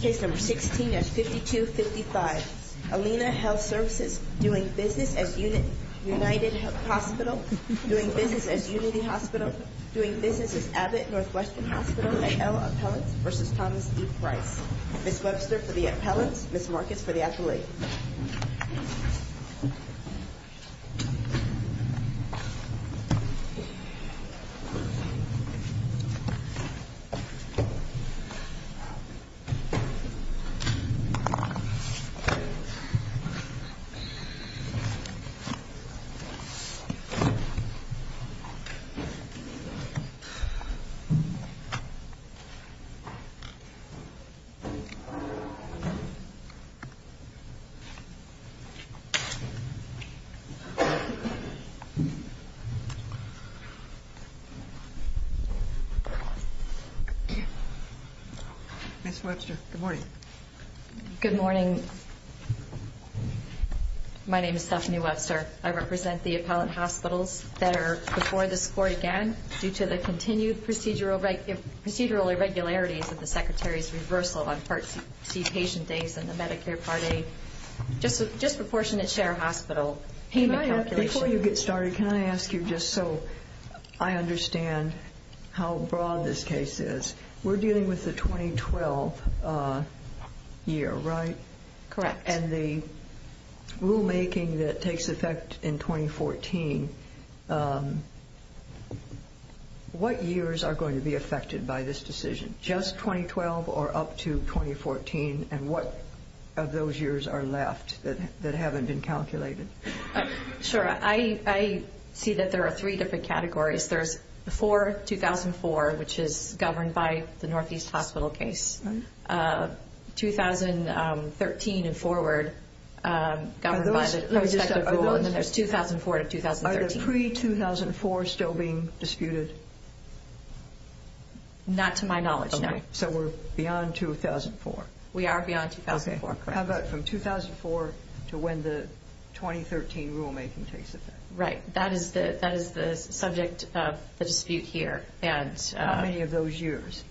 Case number 16-5255. Alina Health Services doing business as United Hospital, doing business as Unity Hospital, doing business as Abbott Northwestern Hospital at L. Appellants v. Thomas D. Price. Ms. Webster for the Appellants, Ms. Marcus for the Affiliate. Ms. Webster for the Affiliate. Ms. Webster, good morning. Good morning. My name is Stephanie Webster. I represent the Appellant Hospitals that are before the score again due to the continued procedural irregularities of the Secretary's reversal on Part C patient days in the Medicare Part A disproportionate share hospital payment calculations. Before you get started, can I ask you just so I understand how broad this case is. We're dealing with the 2012 year, right? Correct. And the rulemaking that takes effect in 2014, what years are going to be affected by this decision? Just 2012 or up to 2014 and what of those years are left that haven't been calculated? Sure. I see that there are three different categories. There's before 2004, which is governed by the Northeast Hospital case, 2013 and forward governed by the prospective rule, and then there's 2004 to 2013. Are the pre-2004 still being disputed? Not to my knowledge, no. So we're beyond 2004? We are beyond 2004, correct. How about from 2004 to when the 2013 rulemaking takes effect? Right. That is the subject of the dispute here. How many of those years?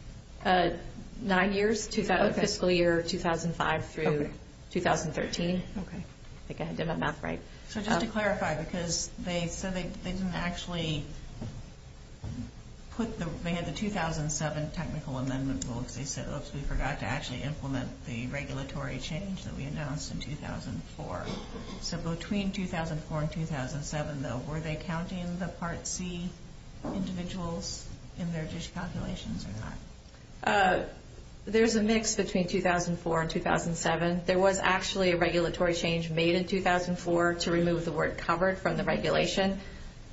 Nine years, fiscal year 2005 through 2013. So just to clarify, because they said they didn't actually put the, they had the 2007 technical amendment rule because they said, oops, we forgot to actually implement the regulatory change that we announced in 2004. So between 2004 and 2007, though, were they counting the Part C individuals in their dish calculations or not? There's a mix between 2004 and 2007. There was actually a regulatory change made in 2004 to remove the word covered from the regulation.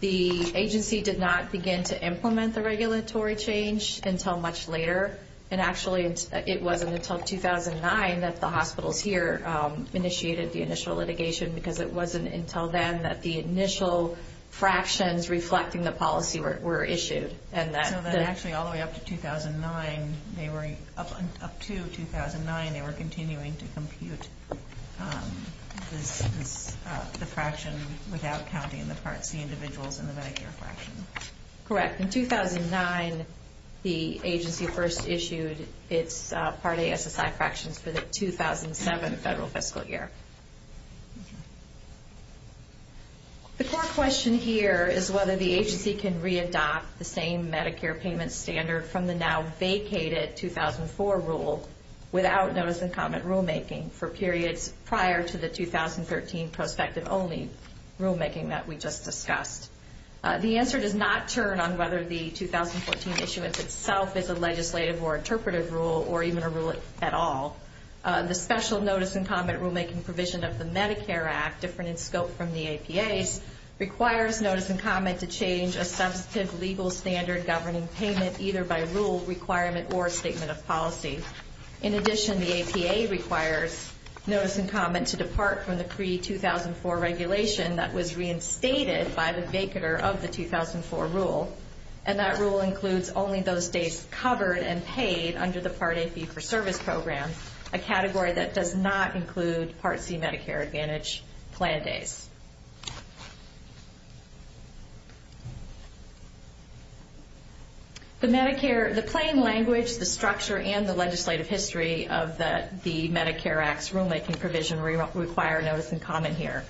The agency did not begin to implement the regulatory change until much later, and actually it wasn't until 2009 that the hospitals here initiated the initial litigation because it wasn't until then that the initial fractions reflecting the policy were issued. So then actually all the way up to 2009, they were, up to 2009, they were continuing to compute the fraction without counting the Part C individuals in the Medicare fraction? Correct. In 2009, the agency first issued its Part A SSI fractions for the 2007 federal fiscal year. The core question here is whether the agency can readopt the same Medicare payment standard from the now vacated 2004 rule without notice and comment rulemaking for periods prior to the 2013 prospective only rulemaking that we just discussed. The answer does not turn on whether the 2014 issuance itself is a legislative or interpretive rule or even a rule at all. The special notice and comment rulemaking provision of the Medicare Act, different in scope from the APA's, requires notice and comment to change a substantive legal standard governing payment either by rule requirement or statement of policy. In addition, the APA requires notice and comment to depart from the pre-2004 regulation that was reinstated by the vacater of the 2004 rule, and that rule includes only those days covered and paid under the Part A fee-for-service program, a category that does not include Part C Medicare Advantage plan days. The Medicare, the plain language, the structure, and the legislative history of the Medicare Act's rulemaking provision require notice and comment here.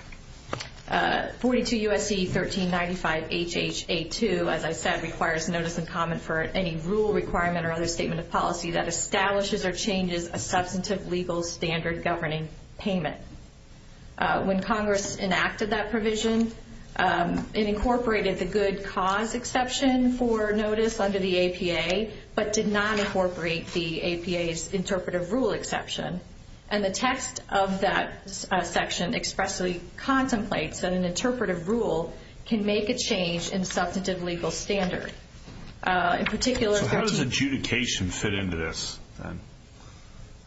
42 U.S.C. 1395 H.H.A. 2, as I said, requires notice and comment for any rule requirement or other statement of policy that establishes or changes a substantive legal standard governing payment. When Congress enacted that provision, it incorporated the good cause exception for notice under the APA, but did not incorporate the APA's interpretive rule exception. And the text of that section expressly contemplates that an interpretive rule can make a change in substantive legal standard. So how does adjudication fit into this?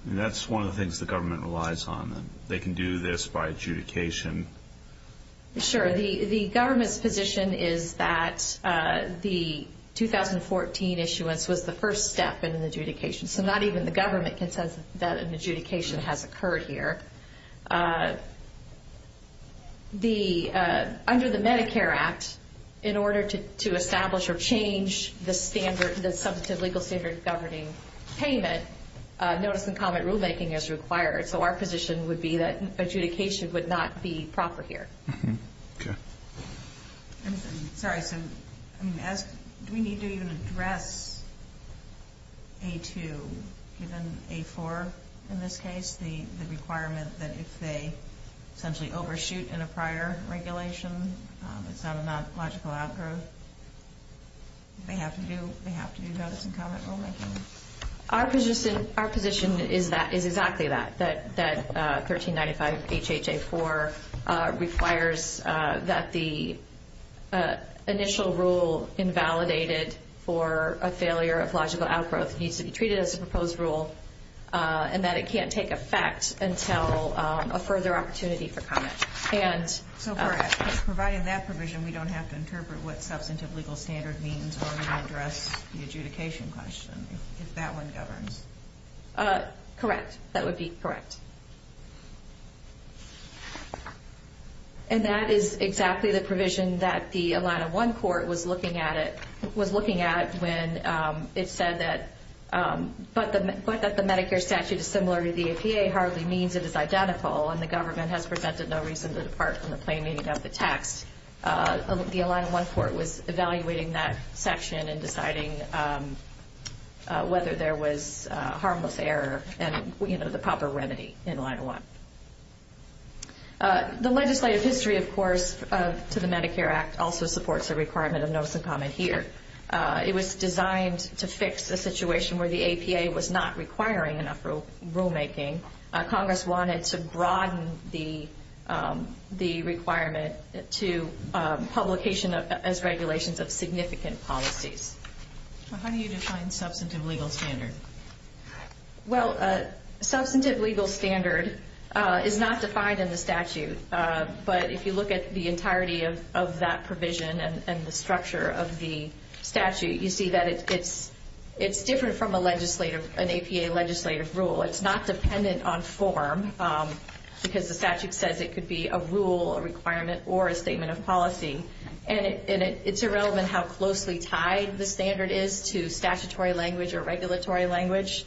That's one of the things the government relies on. They can do this by adjudication. Sure. The government's position is that the 2014 issuance was the first step in an adjudication, so not even the government can say that an adjudication has occurred here. Under the Medicare Act, in order to establish or change the substantive legal standard governing payment, notice and comment rulemaking is required. So our position would be that adjudication would not be proper here. Okay. I'm sorry. So, I mean, do we need to even address A2, given A4 in this case, the requirement that if they essentially overshoot in a prior regulation, it's not a non-logical outgrowth? They have to do notice and comment rulemaking? Our position is exactly that, that 1395 HHA 4 requires that the initial rule invalidated for a failure of logical outgrowth needs to be treated as a proposed rule, and that it can't take effect until a further opportunity for comment. So provided that provision, we don't have to interpret what substantive legal standard means when we address the adjudication question, if that one governs? Correct. That would be correct. And that is exactly the provision that the Align-1 court was looking at when it said that, but that the Medicare statute is similar to the APA hardly means it is identical, and the government has presented no reason to depart from the plain meaning of the text. The Align-1 court was evaluating that section and deciding whether there was harmless error and, you know, the proper remedy in Align-1. The legislative history, of course, to the Medicare Act also supports the requirement of notice and comment here. It was designed to fix a situation where the APA was not requiring enough rulemaking. Congress wanted to broaden the requirement to publication as regulations of significant policies. How do you define substantive legal standard? Well, substantive legal standard is not defined in the statute, but if you look at the entirety of that provision and the structure of the statute, you see that it's different from an APA legislative rule. It's not dependent on form because the statute says it could be a rule, a requirement, or a statement of policy. And it's irrelevant how closely tied the standard is to statutory language or regulatory language.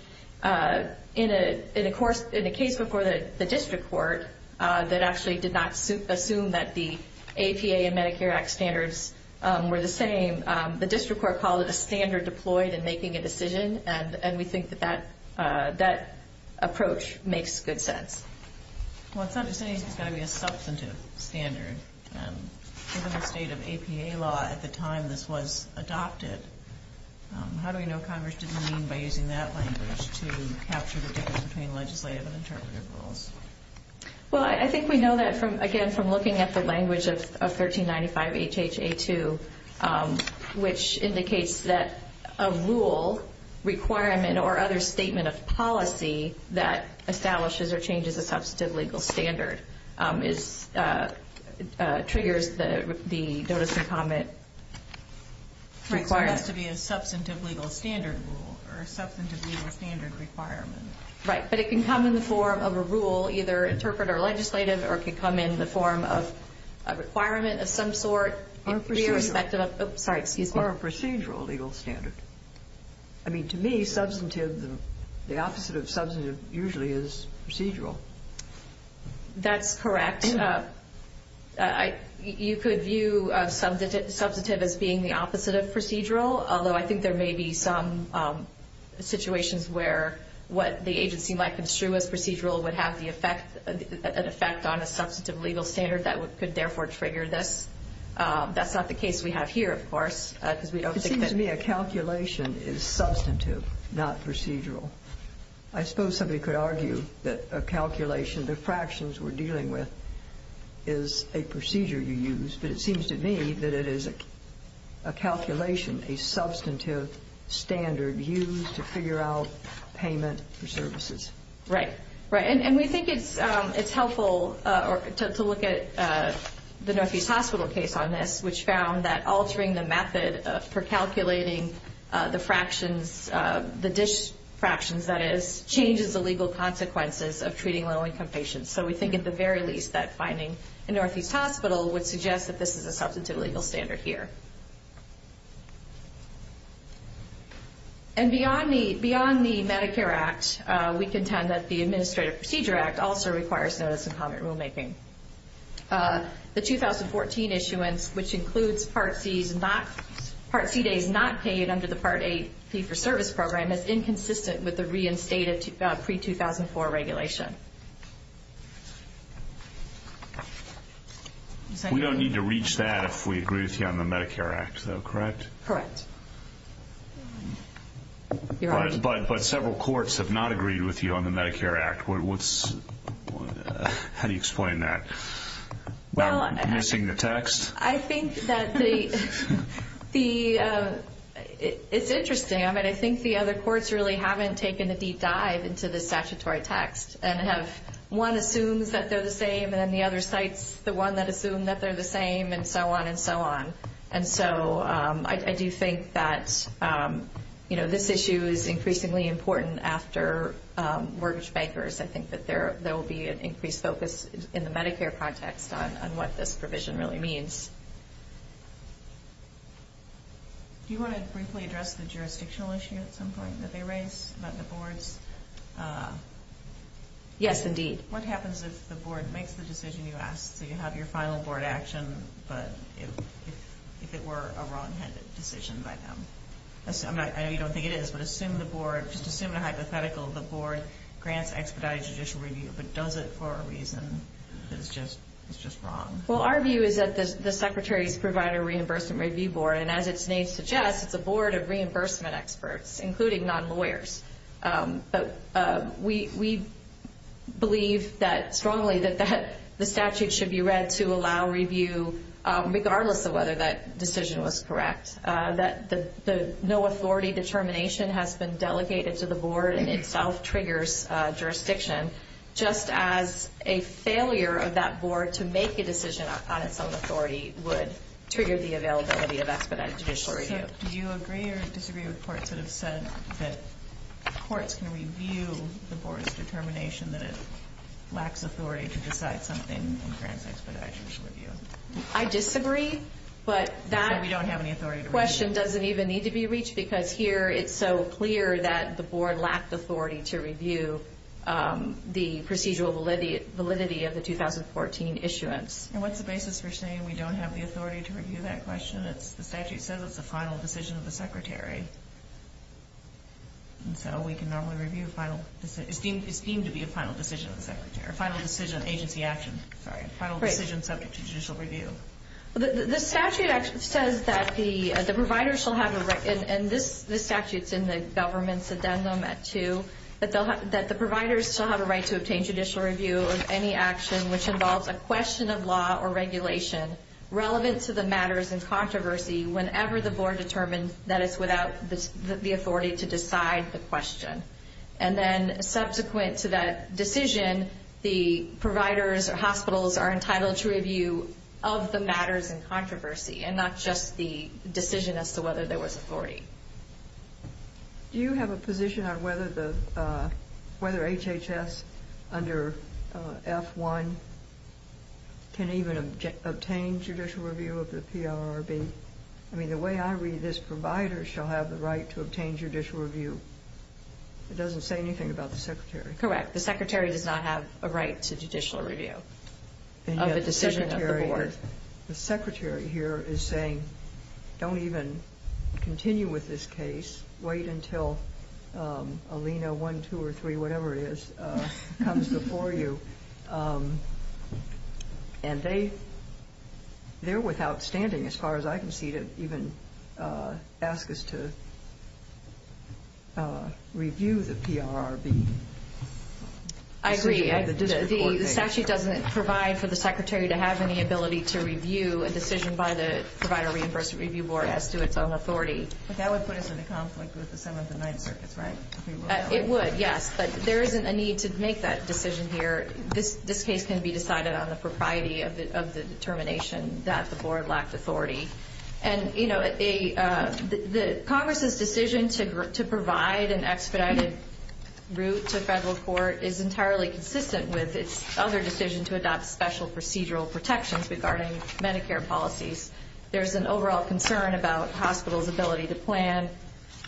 In a case before the district court that actually did not assume that the APA and Medicare Act standards were the same, the district court called it a standard deployed in making a decision, and we think that that approach makes good sense. Well, it's not to say it's got to be a substantive standard. Given the state of APA law at the time this was adopted, how do we know Congress didn't mean by using that language to capture the difference between legislative and interpretive rules? Well, I think we know that, again, from looking at the language of 1395 H.H.A. 2, which indicates that a rule, requirement, or other statement of policy that establishes or changes a substantive legal standard triggers the notice and comment requirement. Right, so it has to be a substantive legal standard rule or a substantive legal standard requirement. Right, but it can come in the form of a rule, either interpretive or legislative, or it can come in the form of a requirement of some sort. Or a procedural legal standard. I mean, to me, substantive, the opposite of substantive usually is procedural. That's correct. You could view substantive as being the opposite of procedural, although I think there may be some situations where what the agency might construe as procedural would have an effect on a substantive legal standard that could therefore trigger this. That's not the case we have here, of course. It seems to me a calculation is substantive, not procedural. I suppose somebody could argue that a calculation, the fractions we're dealing with, is a procedure you use. But it seems to me that it is a calculation, a substantive standard used to figure out payment for services. Right. And we think it's helpful to look at the Northeast Hospital case on this, which found that altering the method for calculating the fractions, the dish fractions, that is, changes the legal consequences of treating low-income patients. So we think at the very least that finding a Northeast Hospital would suggest that this is a substantive legal standard here. And beyond the Medicare Act, we contend that the Administrative Procedure Act also requires notice and comment rulemaking. The 2014 issuance, which includes Part C days not paid under the Part A fee-for-service program, is inconsistent with the reinstated pre-2004 regulation. We don't need to reach that if we agree with you on the Medicare Act, though, correct? Correct. But several courts have not agreed with you on the Medicare Act. How do you explain that? Missing the text? I think that the ñ it's interesting. I mean, I think the other courts really haven't taken a deep dive into the statutory text and have one assumes that they're the same and then the other cites the one that assumed that they're the same and so on and so on. And so I do think that, you know, this issue is increasingly important after mortgage bankers. I think that there will be an increased focus in the Medicare context on what this provision really means. Do you want to briefly address the jurisdictional issue at some point that they raised about the boards? Yes, indeed. What happens if the board makes the decision you asked, so you have your final board action, but if it were a wrong-handed decision by them? I know you don't think it is, but assume the board, just assume the hypothetical, the board grants expedited judicial review, but does it for a reason that is just wrong? Well, our view is that the Secretary's Provider Reimbursement Review Board, and as its name suggests, it's a board of reimbursement experts, including non-lawyers. We believe strongly that the statute should be read to allow review regardless of whether that decision was correct. That the no authority determination has been delegated to the board and itself triggers jurisdiction, just as a failure of that board to make a decision on its own authority would trigger the availability of expedited judicial review. So do you agree or disagree with courts that have said that courts can review the board's determination that it lacks authority to decide something and grants expedited judicial review? I disagree, but that question doesn't even need to be reached because here it's so clear that the board lacked authority to review the procedural validity of the 2014 issuance. And what's the basis for saying we don't have the authority to review that question? The statute says it's a final decision of the Secretary, and so we can normally review a final decision. It's deemed to be a final decision of the Secretary, a final decision of agency action, a final decision subject to judicial review. The statute actually says that the providers shall have a right, and this statute's in the government's addendum at 2, that the providers shall have a right to obtain judicial review of any action which involves a question of law or regulation relevant to the matters in controversy whenever the board determines that it's without the authority to decide the question. And then subsequent to that decision, the providers or hospitals are entitled to review of the matters in controversy and not just the decision as to whether there was authority. Do you have a position on whether HHS under F-1 can even obtain judicial review of the PRRB? I mean, the way I read this, providers shall have the right to obtain judicial review. It doesn't say anything about the Secretary. Correct. The Secretary does not have a right to judicial review of a decision of the board. The Secretary here is saying don't even continue with this case. Wait until Alena 1, 2, or 3, whatever it is, comes before you. And they're without standing, as far as I can see, to even ask us to review the PRRB. I agree. The statute doesn't provide for the Secretary to have any ability to review a decision by the Provider Reimbursement Review Board as to its own authority. But that would put us in a conflict with the Seventh and Ninth Circuits, right? It would, yes, but there isn't a need to make that decision here. This case can be decided on the propriety of the determination that the board lacked authority. And, you know, Congress's decision to provide an expedited route to federal court is entirely consistent with its other decision to adopt special procedural protections regarding Medicare policies. There's an overall concern about hospitals' ability to plan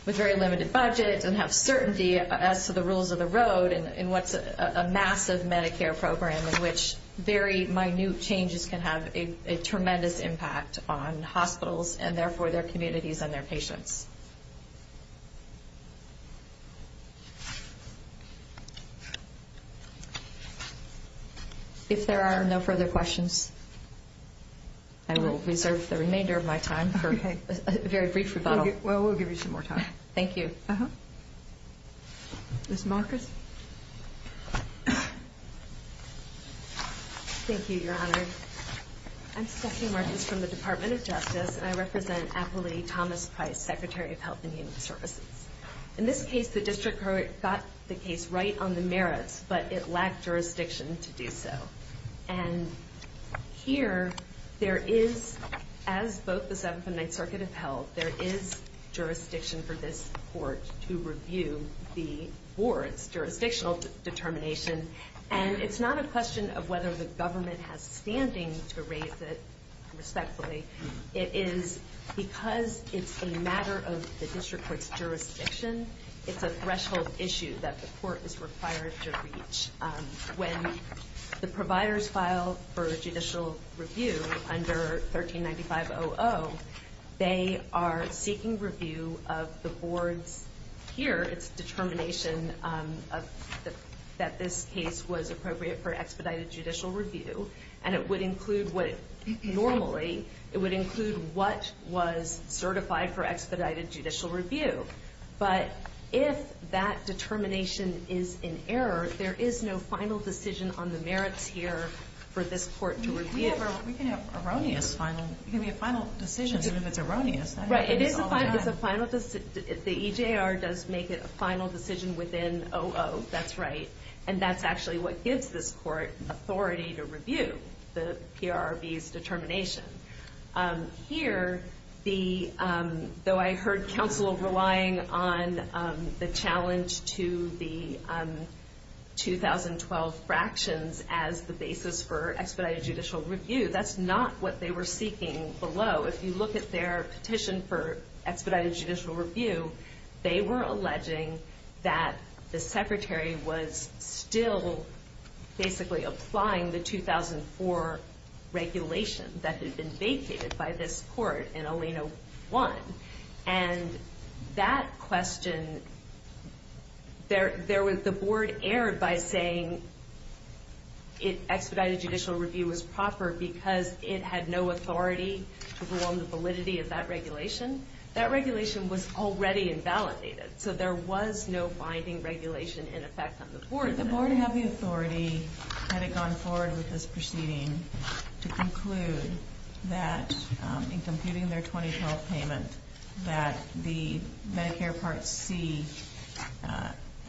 with very limited budget and have certainty as to the rules of the road in what's a massive Medicare program in which very minute changes can have a tremendous impact on hospitals and, therefore, their communities and their patients. Thank you. If there are no further questions, I will reserve the remainder of my time for a very brief rebuttal. Well, we'll give you some more time. Thank you. Ms. Marcus? Thank you, Your Honor. I'm Stephanie Marcus from the Department of Justice, and I represent Apolli Thomas Price, Secretary of Health and Human Services. In this case, the district court got the case right on the merits, but it lacked jurisdiction to do so. And here, there is, as both the Seventh and Ninth Circuit have held, there is jurisdiction for this court to review the board's jurisdictional determination. And it's not a question of whether the government has standing to raise it respectfully. It is because it's a matter of the district court's jurisdiction. It's a threshold issue that the court is required to reach. When the providers file for judicial review under 1395.00, they are seeking review of the board's, here, its determination that this case was appropriate for expedited judicial review. And it would include what, normally, it would include what was certified for expedited judicial review. But if that determination is in error, there is no final decision on the merits here for this court to review. We can have erroneous final, we can have a final decision, even if it's erroneous. Right, it is a final decision. The EJR does make it a final decision within OO, that's right. And that's actually what gives this court authority to review the PRRB's determination. Here, though I heard counsel relying on the challenge to the 2012 fractions as the basis for expedited judicial review, that's not what they were seeking below. If you look at their petition for expedited judicial review, they were alleging that the secretary was still, basically, applying the 2004 regulation that had been vacated by this court in Alena 1. And that question, the board erred by saying expedited judicial review was proper because it had no authority to prolong the validity of that regulation. That regulation was already invalidated, so there was no binding regulation in effect on the board. Did the board have the authority, had it gone forward with this proceeding, to conclude that, in computing their 2012 payment, that the Medicare Part C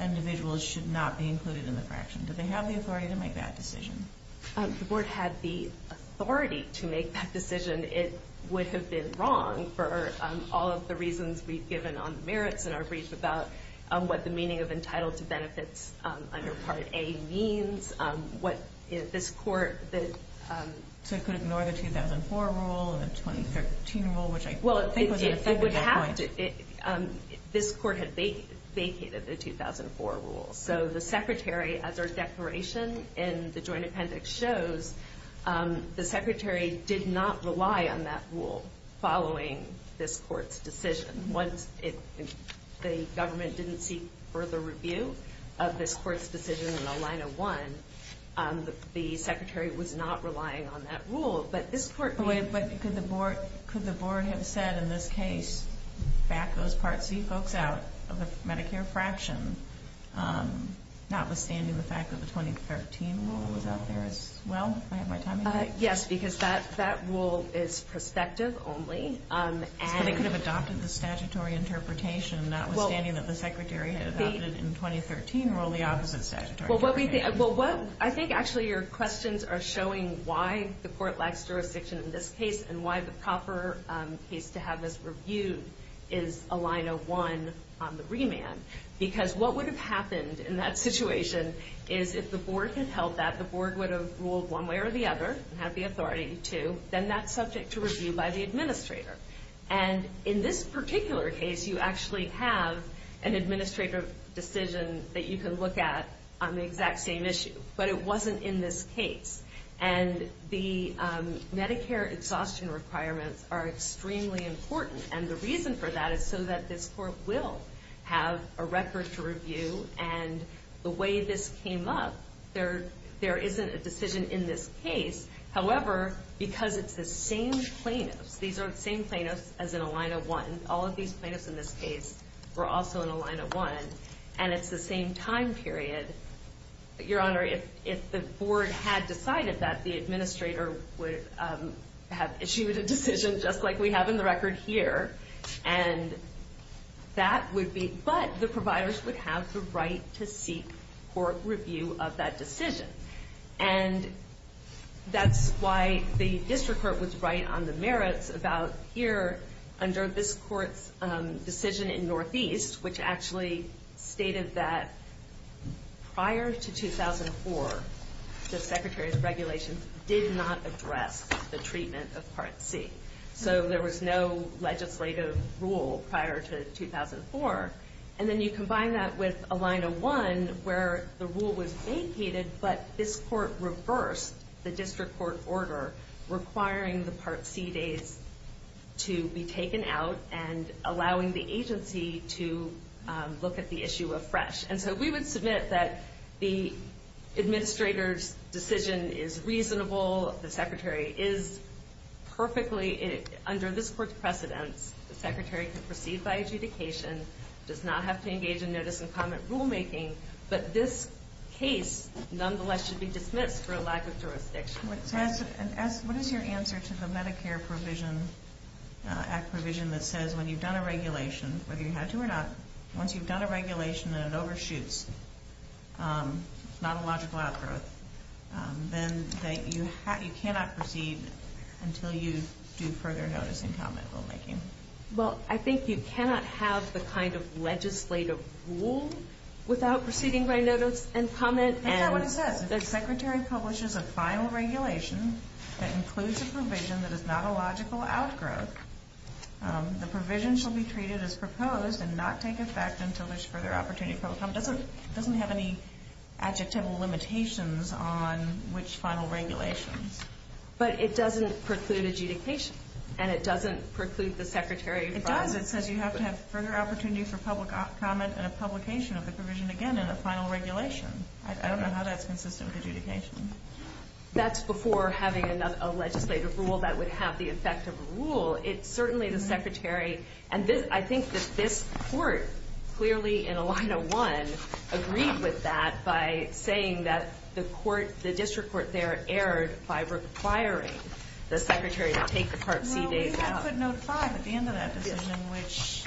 individuals should not be included in the fraction? Did they have the authority to make that decision? The board had the authority to make that decision. It would have been wrong, for all of the reasons we've given on the merits in our brief, about what the meaning of entitled to benefits under Part A means, what this court... So it could ignore the 2004 rule and the 2013 rule, which I think was an effective point. This court had vacated the 2004 rule. So the secretary, as our declaration in the joint appendix shows, the secretary did not rely on that rule following this court's decision. Once the government didn't seek further review of this court's decision in Alena 1, the secretary was not relying on that rule, but this court... Anyway, but could the board have said in this case, back those Part C folks out of the Medicare fraction, notwithstanding the fact that the 2013 rule was out there as well, if I have my timing right? Yes, because that rule is prospective only, and... So they could have adopted the statutory interpretation, notwithstanding that the secretary had adopted in 2013 rule the opposite statutory interpretation. I think actually your questions are showing why the court lacks jurisdiction in this case, and why the proper case to have this reviewed is Alena 1 on the remand. Because what would have happened in that situation is if the board had held that, the board would have ruled one way or the other, and had the authority to, And in this particular case, you actually have an administrative decision that you can look at on the exact same issue, but it wasn't in this case. And the Medicare exhaustion requirements are extremely important, and the reason for that is so that this court will have a record to review, and the way this came up, there isn't a decision in this case. However, because it's the same plaintiffs, these are the same plaintiffs as in Alena 1, all of these plaintiffs in this case were also in Alena 1, and it's the same time period, your honor, if the board had decided that, the administrator would have issued a decision just like we have in the record here, and that would be, but the providers would have the right to seek court review of that decision. And that's why the district court was right on the merits about here, under this court's decision in Northeast, which actually stated that prior to 2004, the secretary's regulations did not address the treatment of Part C. So there was no legislative rule prior to 2004, and then you combine that with Alena 1, where the rule was vacated, but this court reversed the district court order requiring the Part C days to be taken out and allowing the agency to look at the issue afresh. And so we would submit that the administrator's decision is reasonable, the secretary is perfectly under this court's precedence, the secretary can proceed by adjudication, does not have to engage in notice and comment rulemaking, but this case nonetheless should be dismissed for a lack of jurisdiction. What is your answer to the Medicare Act provision that says when you've done a regulation, whether you had to or not, once you've done a regulation and it overshoots, not a logical outgrowth, then you cannot proceed until you do further notice and comment rulemaking? Well, I think you cannot have the kind of legislative rule without proceeding by notice and comment. That's not what it says. If the secretary publishes a final regulation that includes a provision that is not a logical outgrowth, the provision shall be treated as proposed and not take effect until there's further opportunity for public comment. It doesn't have any adjectival limitations on which final regulations. But it doesn't preclude adjudication, and it doesn't preclude the secretary from... It does. It says you have to have further opportunity for public comment and a publication of the provision again in a final regulation. I don't know how that's consistent with adjudication. That's before having a legislative rule that would have the effect of a rule. It's certainly the secretary. And I think that this court, clearly in a line of one, agreed with that by saying that the district court there erred by requiring the secretary to take the Part C days out. Well, we had footnote five at the end of that decision, which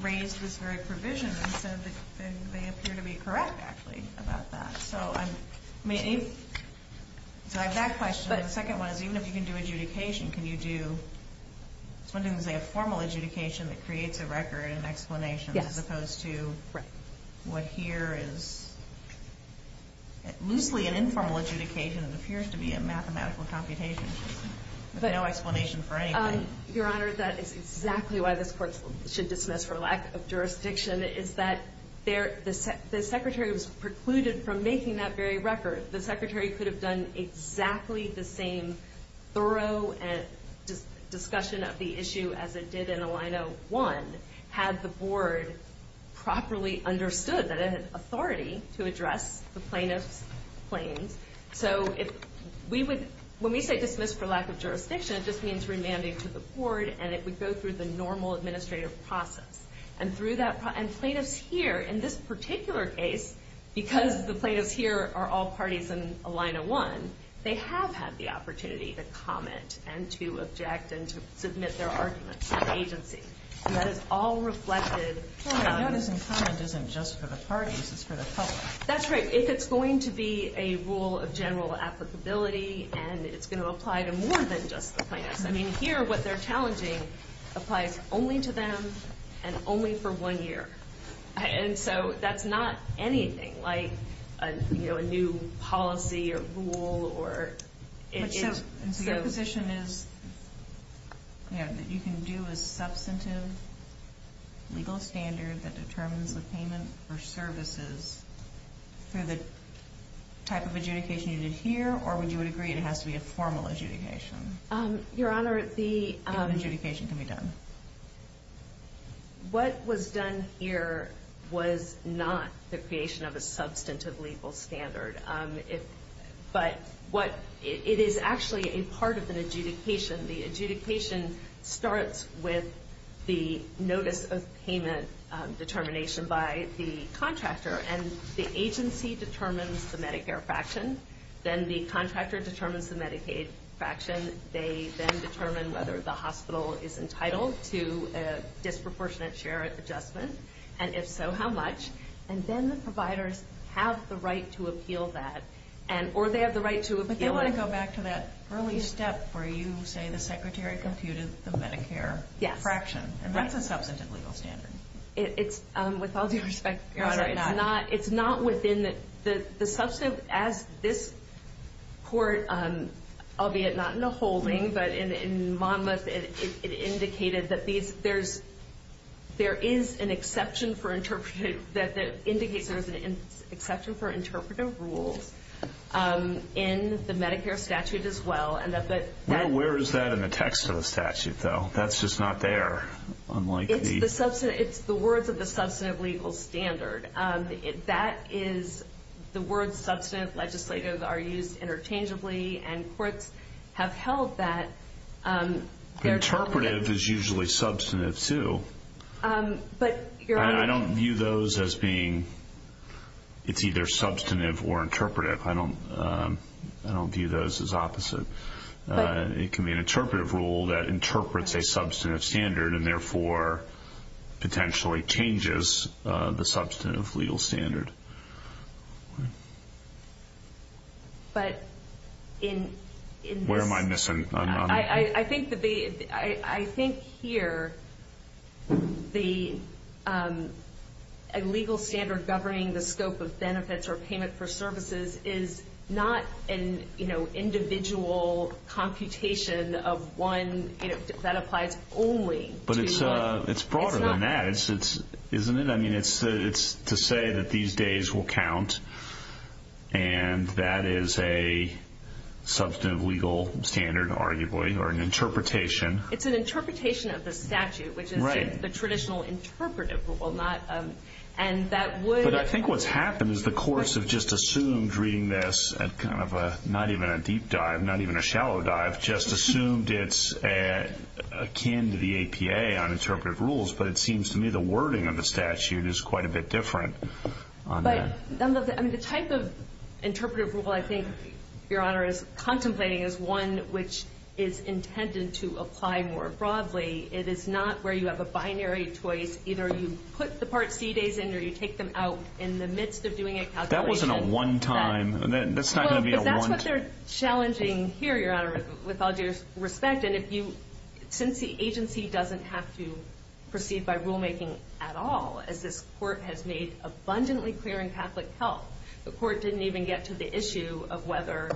raised this very provision and said that they appear to be correct, actually, about that. So I have that question. The second one is, even if you can do adjudication, can you do, let's say a formal adjudication that creates a record and explanation, as opposed to what here is loosely an informal adjudication that appears to be a mathematical computation with no explanation for anything. Your Honor, that is exactly why this court should dismiss for lack of jurisdiction, is that the secretary was precluded from making that very record. The secretary could have done exactly the same thorough discussion of the issue as it did in a line of one, had the board properly understood that it had authority to address the plaintiff's claims. So when we say dismiss for lack of jurisdiction, it just means remanding to the board, and it would go through the normal administrative process. And plaintiffs here, in this particular case, because the plaintiffs here are all parties in a line of one, they have had the opportunity to comment and to object and to submit their arguments to the agency. And that is all reflected on... Your Honor, notice and comment isn't just for the parties, it's for the public. That's right. If it's going to be a rule of general applicability and it's going to apply to more than just the plaintiffs. I mean, here, what they're challenging applies only to them and only for one year. And so that's not anything like a new policy or rule or... So your position is that you can do a substantive legal standard that determines the payment for services through the type of adjudication you did here, or would you agree it has to be a formal adjudication? Your Honor, the... The adjudication can be done. What was done here was not the creation of a substantive legal standard. But it is actually a part of an adjudication. The adjudication starts with the notice of payment determination by the contractor. And the agency determines the Medicare fraction. Then the contractor determines the Medicaid fraction. They then determine whether the hospital is entitled to a disproportionate share adjustment, and if so, how much. And then the providers have the right to appeal that, or they have the right to appeal... But they want to go back to that early step where you say the Secretary computed the Medicare fraction. Yes. And that's a substantive legal standard. It's, with all due respect, Your Honor, it's not within the... As this court, albeit not in a holding, but in Monmouth, it indicated that there is an exception for interpretive rules in the Medicare statute as well. Where is that in the text of the statute, though? That's just not there, unlike the... It's the words of the substantive legal standard. That is the word substantive legislative are used interchangeably, and courts have held that... Interpretive is usually substantive, too. But, Your Honor... I don't view those as being... It's either substantive or interpretive. I don't view those as opposite. It can be an interpretive rule that interprets a substantive standard and, therefore, potentially changes the substantive legal standard. But in this... Where am I missing? I think here the legal standard governing the scope of benefits or payment for services is not an individual computation of one that applies only to... But it's broader than that, isn't it? I mean, it's to say that these days will count, and that is a substantive legal standard, arguably, or an interpretation. It's an interpretation of the statute, which is the traditional interpretive rule. And that would... I was reading this at kind of a not even a deep dive, not even a shallow dive, just assumed it's akin to the APA on interpretive rules, but it seems to me the wording of the statute is quite a bit different on that. The type of interpretive rule I think, Your Honor, is contemplating is one which is intended to apply more broadly. It is not where you have a binary choice. Either you put the Part C days in or you take them out in the midst of doing a calculation. That wasn't a one-time. That's not going to be a one... Well, but that's what they're challenging here, Your Honor, with all due respect. And since the agency doesn't have to proceed by rulemaking at all, as this court has made abundantly clear in Catholic Health, the court didn't even get to the issue of whether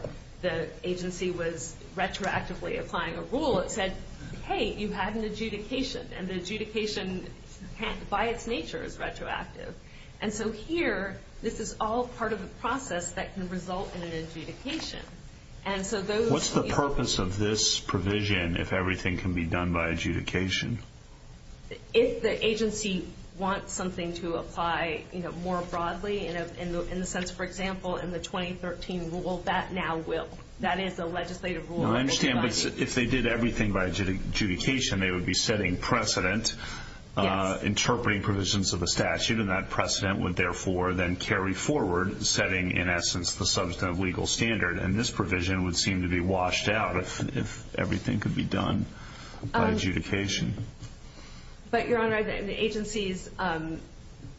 the agency was retroactively applying a rule. It said, hey, you have an adjudication, and the adjudication by its nature is retroactive. And so here, this is all part of the process that can result in an adjudication. What's the purpose of this provision if everything can be done by adjudication? If the agency wants something to apply more broadly, in the sense, for example, in the 2013 rule, that now will. That is the legislative rule. I understand, but if they did everything by adjudication, they would be setting precedent, interpreting provisions of a statute, and that precedent would, therefore, then carry forward, setting, in essence, the substantive legal standard. And this provision would seem to be washed out if everything could be done by adjudication. But, Your Honor, the agency's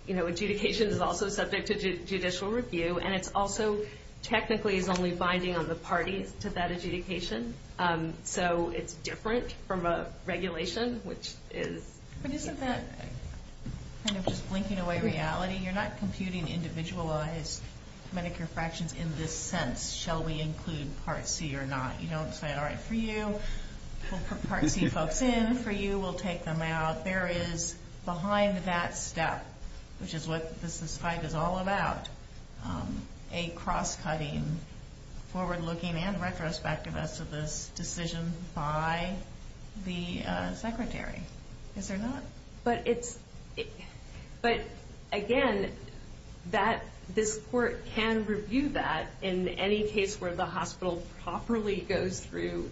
adjudication is also subject to judicial review, and it's also technically is only binding on the parties to that adjudication. So it's different from a regulation, which is... But isn't that kind of just blinking away reality? You're not computing individualized Medicare fractions in this sense. Shall we include Part C or not? You don't say, all right, for you, we'll put Part C folks in. For you, we'll take them out. There is, behind that step, which is what this fight is all about, a cross-cutting, forward-looking, and retrospective as to this decision by the secretary. Yes or no? But it's... But, again, this court can review that in any case where the hospital properly goes through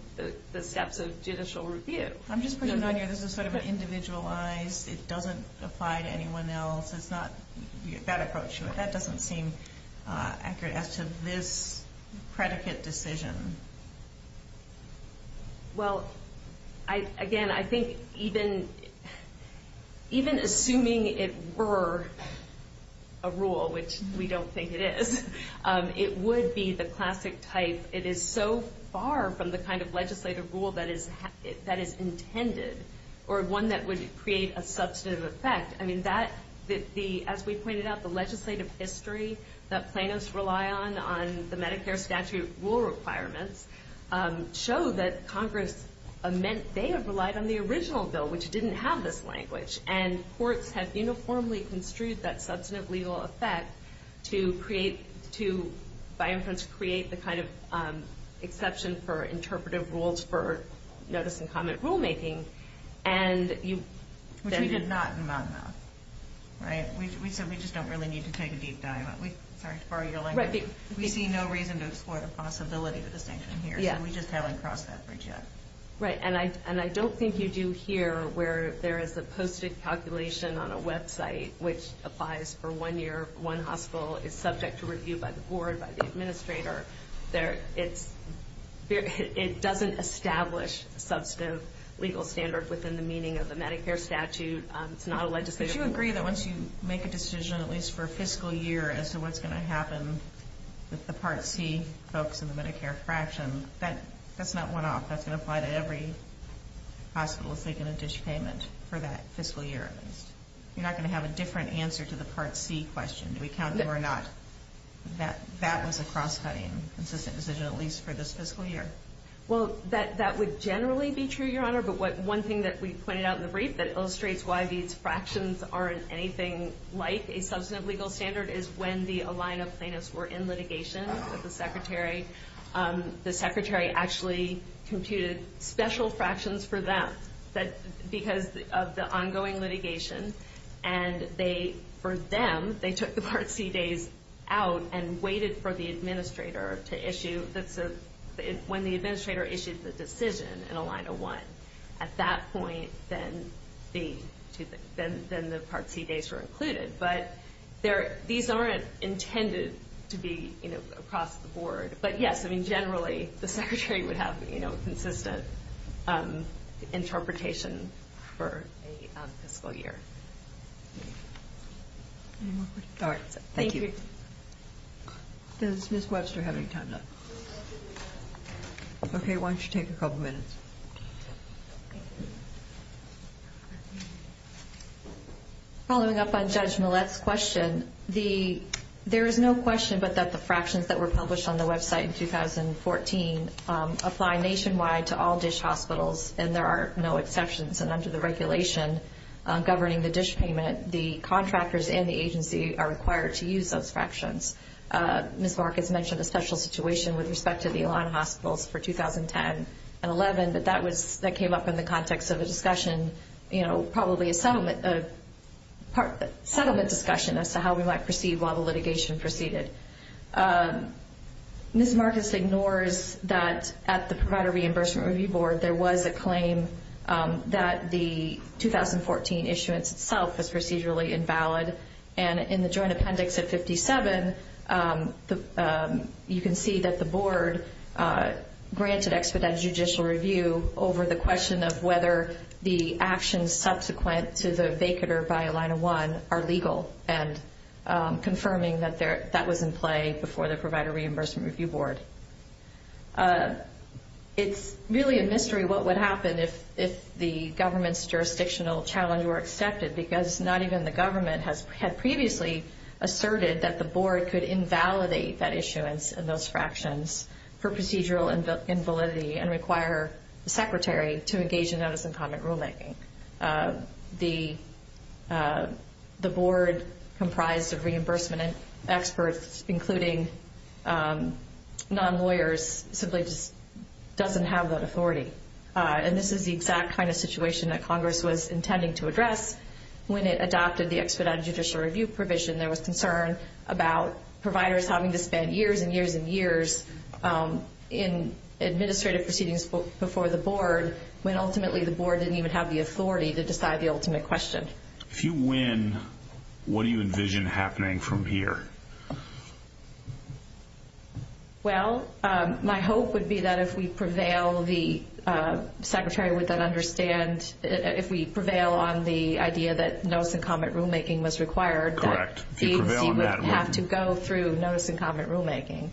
the steps of judicial review. I'm just putting it on here. This is sort of individualized. It doesn't apply to anyone else. It's not that approach. That doesn't seem accurate as to this predicate decision. Well, again, I think even assuming it were a rule, which we don't think it is, it would be the classic type. It is so far from the kind of legislative rule that is intended or one that would create a substantive effect. I mean, as we pointed out, the legislative history that plaintiffs rely on on the Medicare statute rule requirements show that Congress meant they have relied on the original bill, which didn't have this language. And courts have uniformly construed that substantive legal effect to, by inference, create the kind of exception for interpretive rules for notice-and-comment rulemaking. Which we did not in Monmouth. Right? We said we just don't really need to take a deep dive. Sorry to borrow your language. We see no reason to explore the possibility of a distinction here. So we just haven't crossed that bridge yet. Right. And I don't think you do here where there is a posted calculation on a website which applies for one year, one hospital is subject to review by the board, by the administrator. It doesn't establish substantive legal standard within the meaning of the Medicare statute. It's not a legislative rule. But you agree that once you make a decision, at least for a fiscal year, as to what's going to happen with the Part C folks in the Medicare fraction, that's not one-off. That's going to apply to every hospital that's making a dish payment for that fiscal year. You're not going to have a different answer to the Part C question. Do we count them or not? That was a cross-cutting, consistent decision, at least for this fiscal year. Well, that would generally be true, Your Honor. But one thing that we pointed out in the brief that illustrates why these fractions aren't anything like a substantive legal standard is when the Alina plaintiffs were in litigation with the Secretary, the Secretary actually computed special fractions for them because of the ongoing litigation. And for them, they took the Part C days out and waited for the administrator to issue when the administrator issued the decision in Alina 1. At that point, then the Part C days were included. But these aren't intended to be across the board. But, yes, generally, the Secretary would have consistent interpretation for a fiscal year. Any more questions? All right. Thank you. Does Ms. Webster have any time left? Okay. Why don't you take a couple minutes? Following up on Judge Millett's question, there is no question but that the fractions that were published on the website in 2014 apply nationwide to all dish hospitals, and there are no exceptions. And under the regulation governing the dish payment, the contractors and the agency are required to use those fractions. Ms. Marcus mentioned a special situation with respect to the Alina hospitals for 2010 and 2011, but that came up in the context of a discussion, probably a settlement discussion as to how we might proceed while the litigation proceeded. Ms. Marcus ignores that at the Provider Reimbursement Review Board there was a claim that the 2014 issuance itself was procedurally invalid. And in the joint appendix at 57, you can see that the board granted expedited judicial review over the question of whether the actions subsequent to the vacater by Alina 1 are legal and confirming that that was in play before the Provider Reimbursement Review Board. It's really a mystery what would happen if the government's jurisdictional challenge were accepted because not even the government had previously asserted that the board could invalidate that issuance and those fractions for procedural invalidity and require the secretary to engage in notice and comment rulemaking. The board comprised of reimbursement experts, including non-lawyers, simply just doesn't have that authority. And this is the exact kind of situation that Congress was intending to address when it adopted the expedited judicial review provision. There was concern about providers having to spend years and years and years in administrative proceedings before the board when ultimately the board didn't even have the authority to decide the ultimate question. If you win, what do you envision happening from here? Well, my hope would be that if we prevail, the secretary would then understand if we prevail on the idea that notice and comment rulemaking was required. Correct. He would have to go through notice and comment rulemaking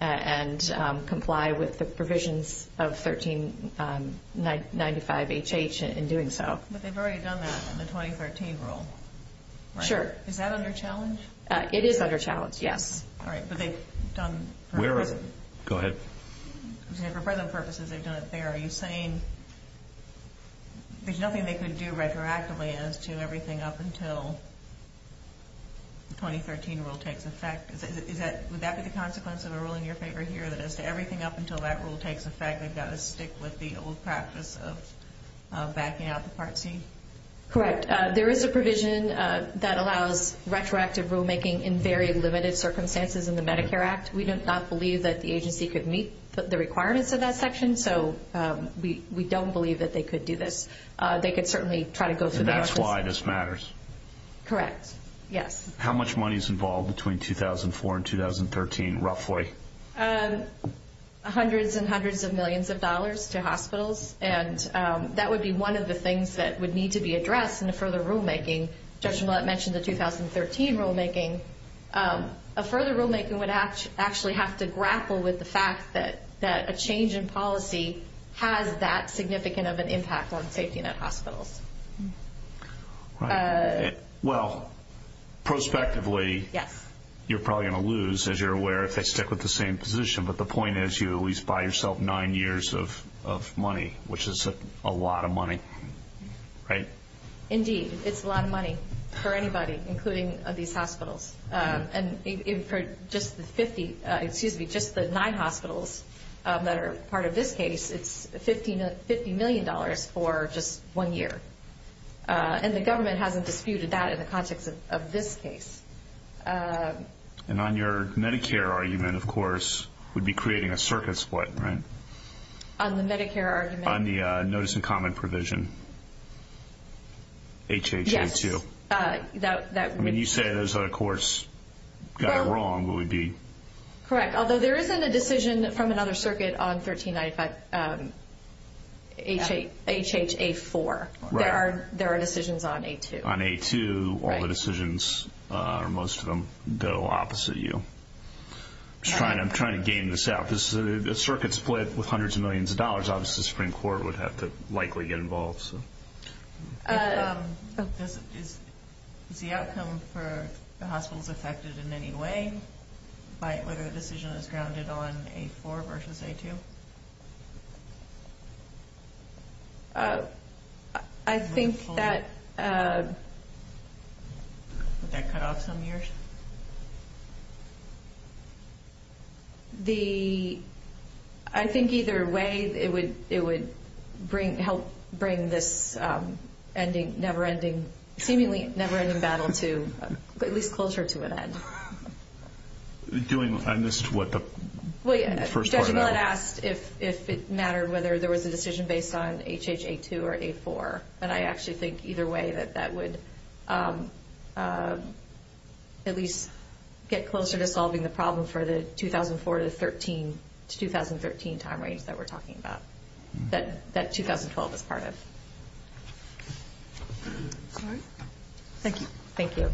and comply with the provisions of 1395HH in doing so. But they've already done that in the 2013 rule, right? Sure. Is that under challenge? It is under challenge, yes. All right, but they've done... Go ahead. For prison purposes, they've done it there. Are you saying there's nothing they could do retroactively as to everything up until the 2013 rule takes effect? Would that be the consequence of a rule in your favor here, that as to everything up until that rule takes effect, they've got to stick with the old practice of backing out the Part C? Correct. There is a provision that allows retroactive rulemaking in very limited circumstances in the Medicare Act. We do not believe that the agency could meet the requirements of that section, so we don't believe that they could do this. They could certainly try to go through notice. And that's why this matters? Correct, yes. How much money is involved between 2004 and 2013, roughly? Hundreds and hundreds of millions of dollars to hospitals, and that would be one of the things that would need to be addressed in the further rulemaking. Judge Millett mentioned the 2013 rulemaking. A further rulemaking would actually have to grapple with the fact that a change in policy has that significant of an impact on safety net hospitals. Right. Well, prospectively, you're probably going to lose, as you're aware, if they stick with the same position. But the point is you at least buy yourself nine years of money, which is a lot of money, right? Indeed. It's a lot of money for anybody, including these hospitals. And for just the nine hospitals that are part of this case, it's $50 million for just one year. And the government hasn't disputed that in the context of this case. And on your Medicare argument, of course, would be creating a circuit split, right? On the Medicare argument? On the notice and comment provision, HHA2. Yes. I mean, you say those other courts got it wrong, but would be. Correct. Although there isn't a decision from another circuit on 1395 HHA4. There are decisions on A2. On A2, all the decisions, or most of them, go opposite you. I'm trying to game this out. A circuit split with hundreds of millions of dollars, obviously the Supreme Court would have to likely get involved. Is the outcome for the hospitals affected in any way by whether the decision is grounded on A4 versus A2? I think that. Would that cut off some years? I think either way it would help bring this seemingly never-ending battle, at least culture, to an end. I missed what the first part of that was. Judge Millett asked if it mattered whether there was a decision based on HHA2 or A4. And I actually think either way that that would at least get closer to solving the problem for the 2004 to 2013 time range that we're talking about, that 2012 is part of. All right. Thank you. Thank you.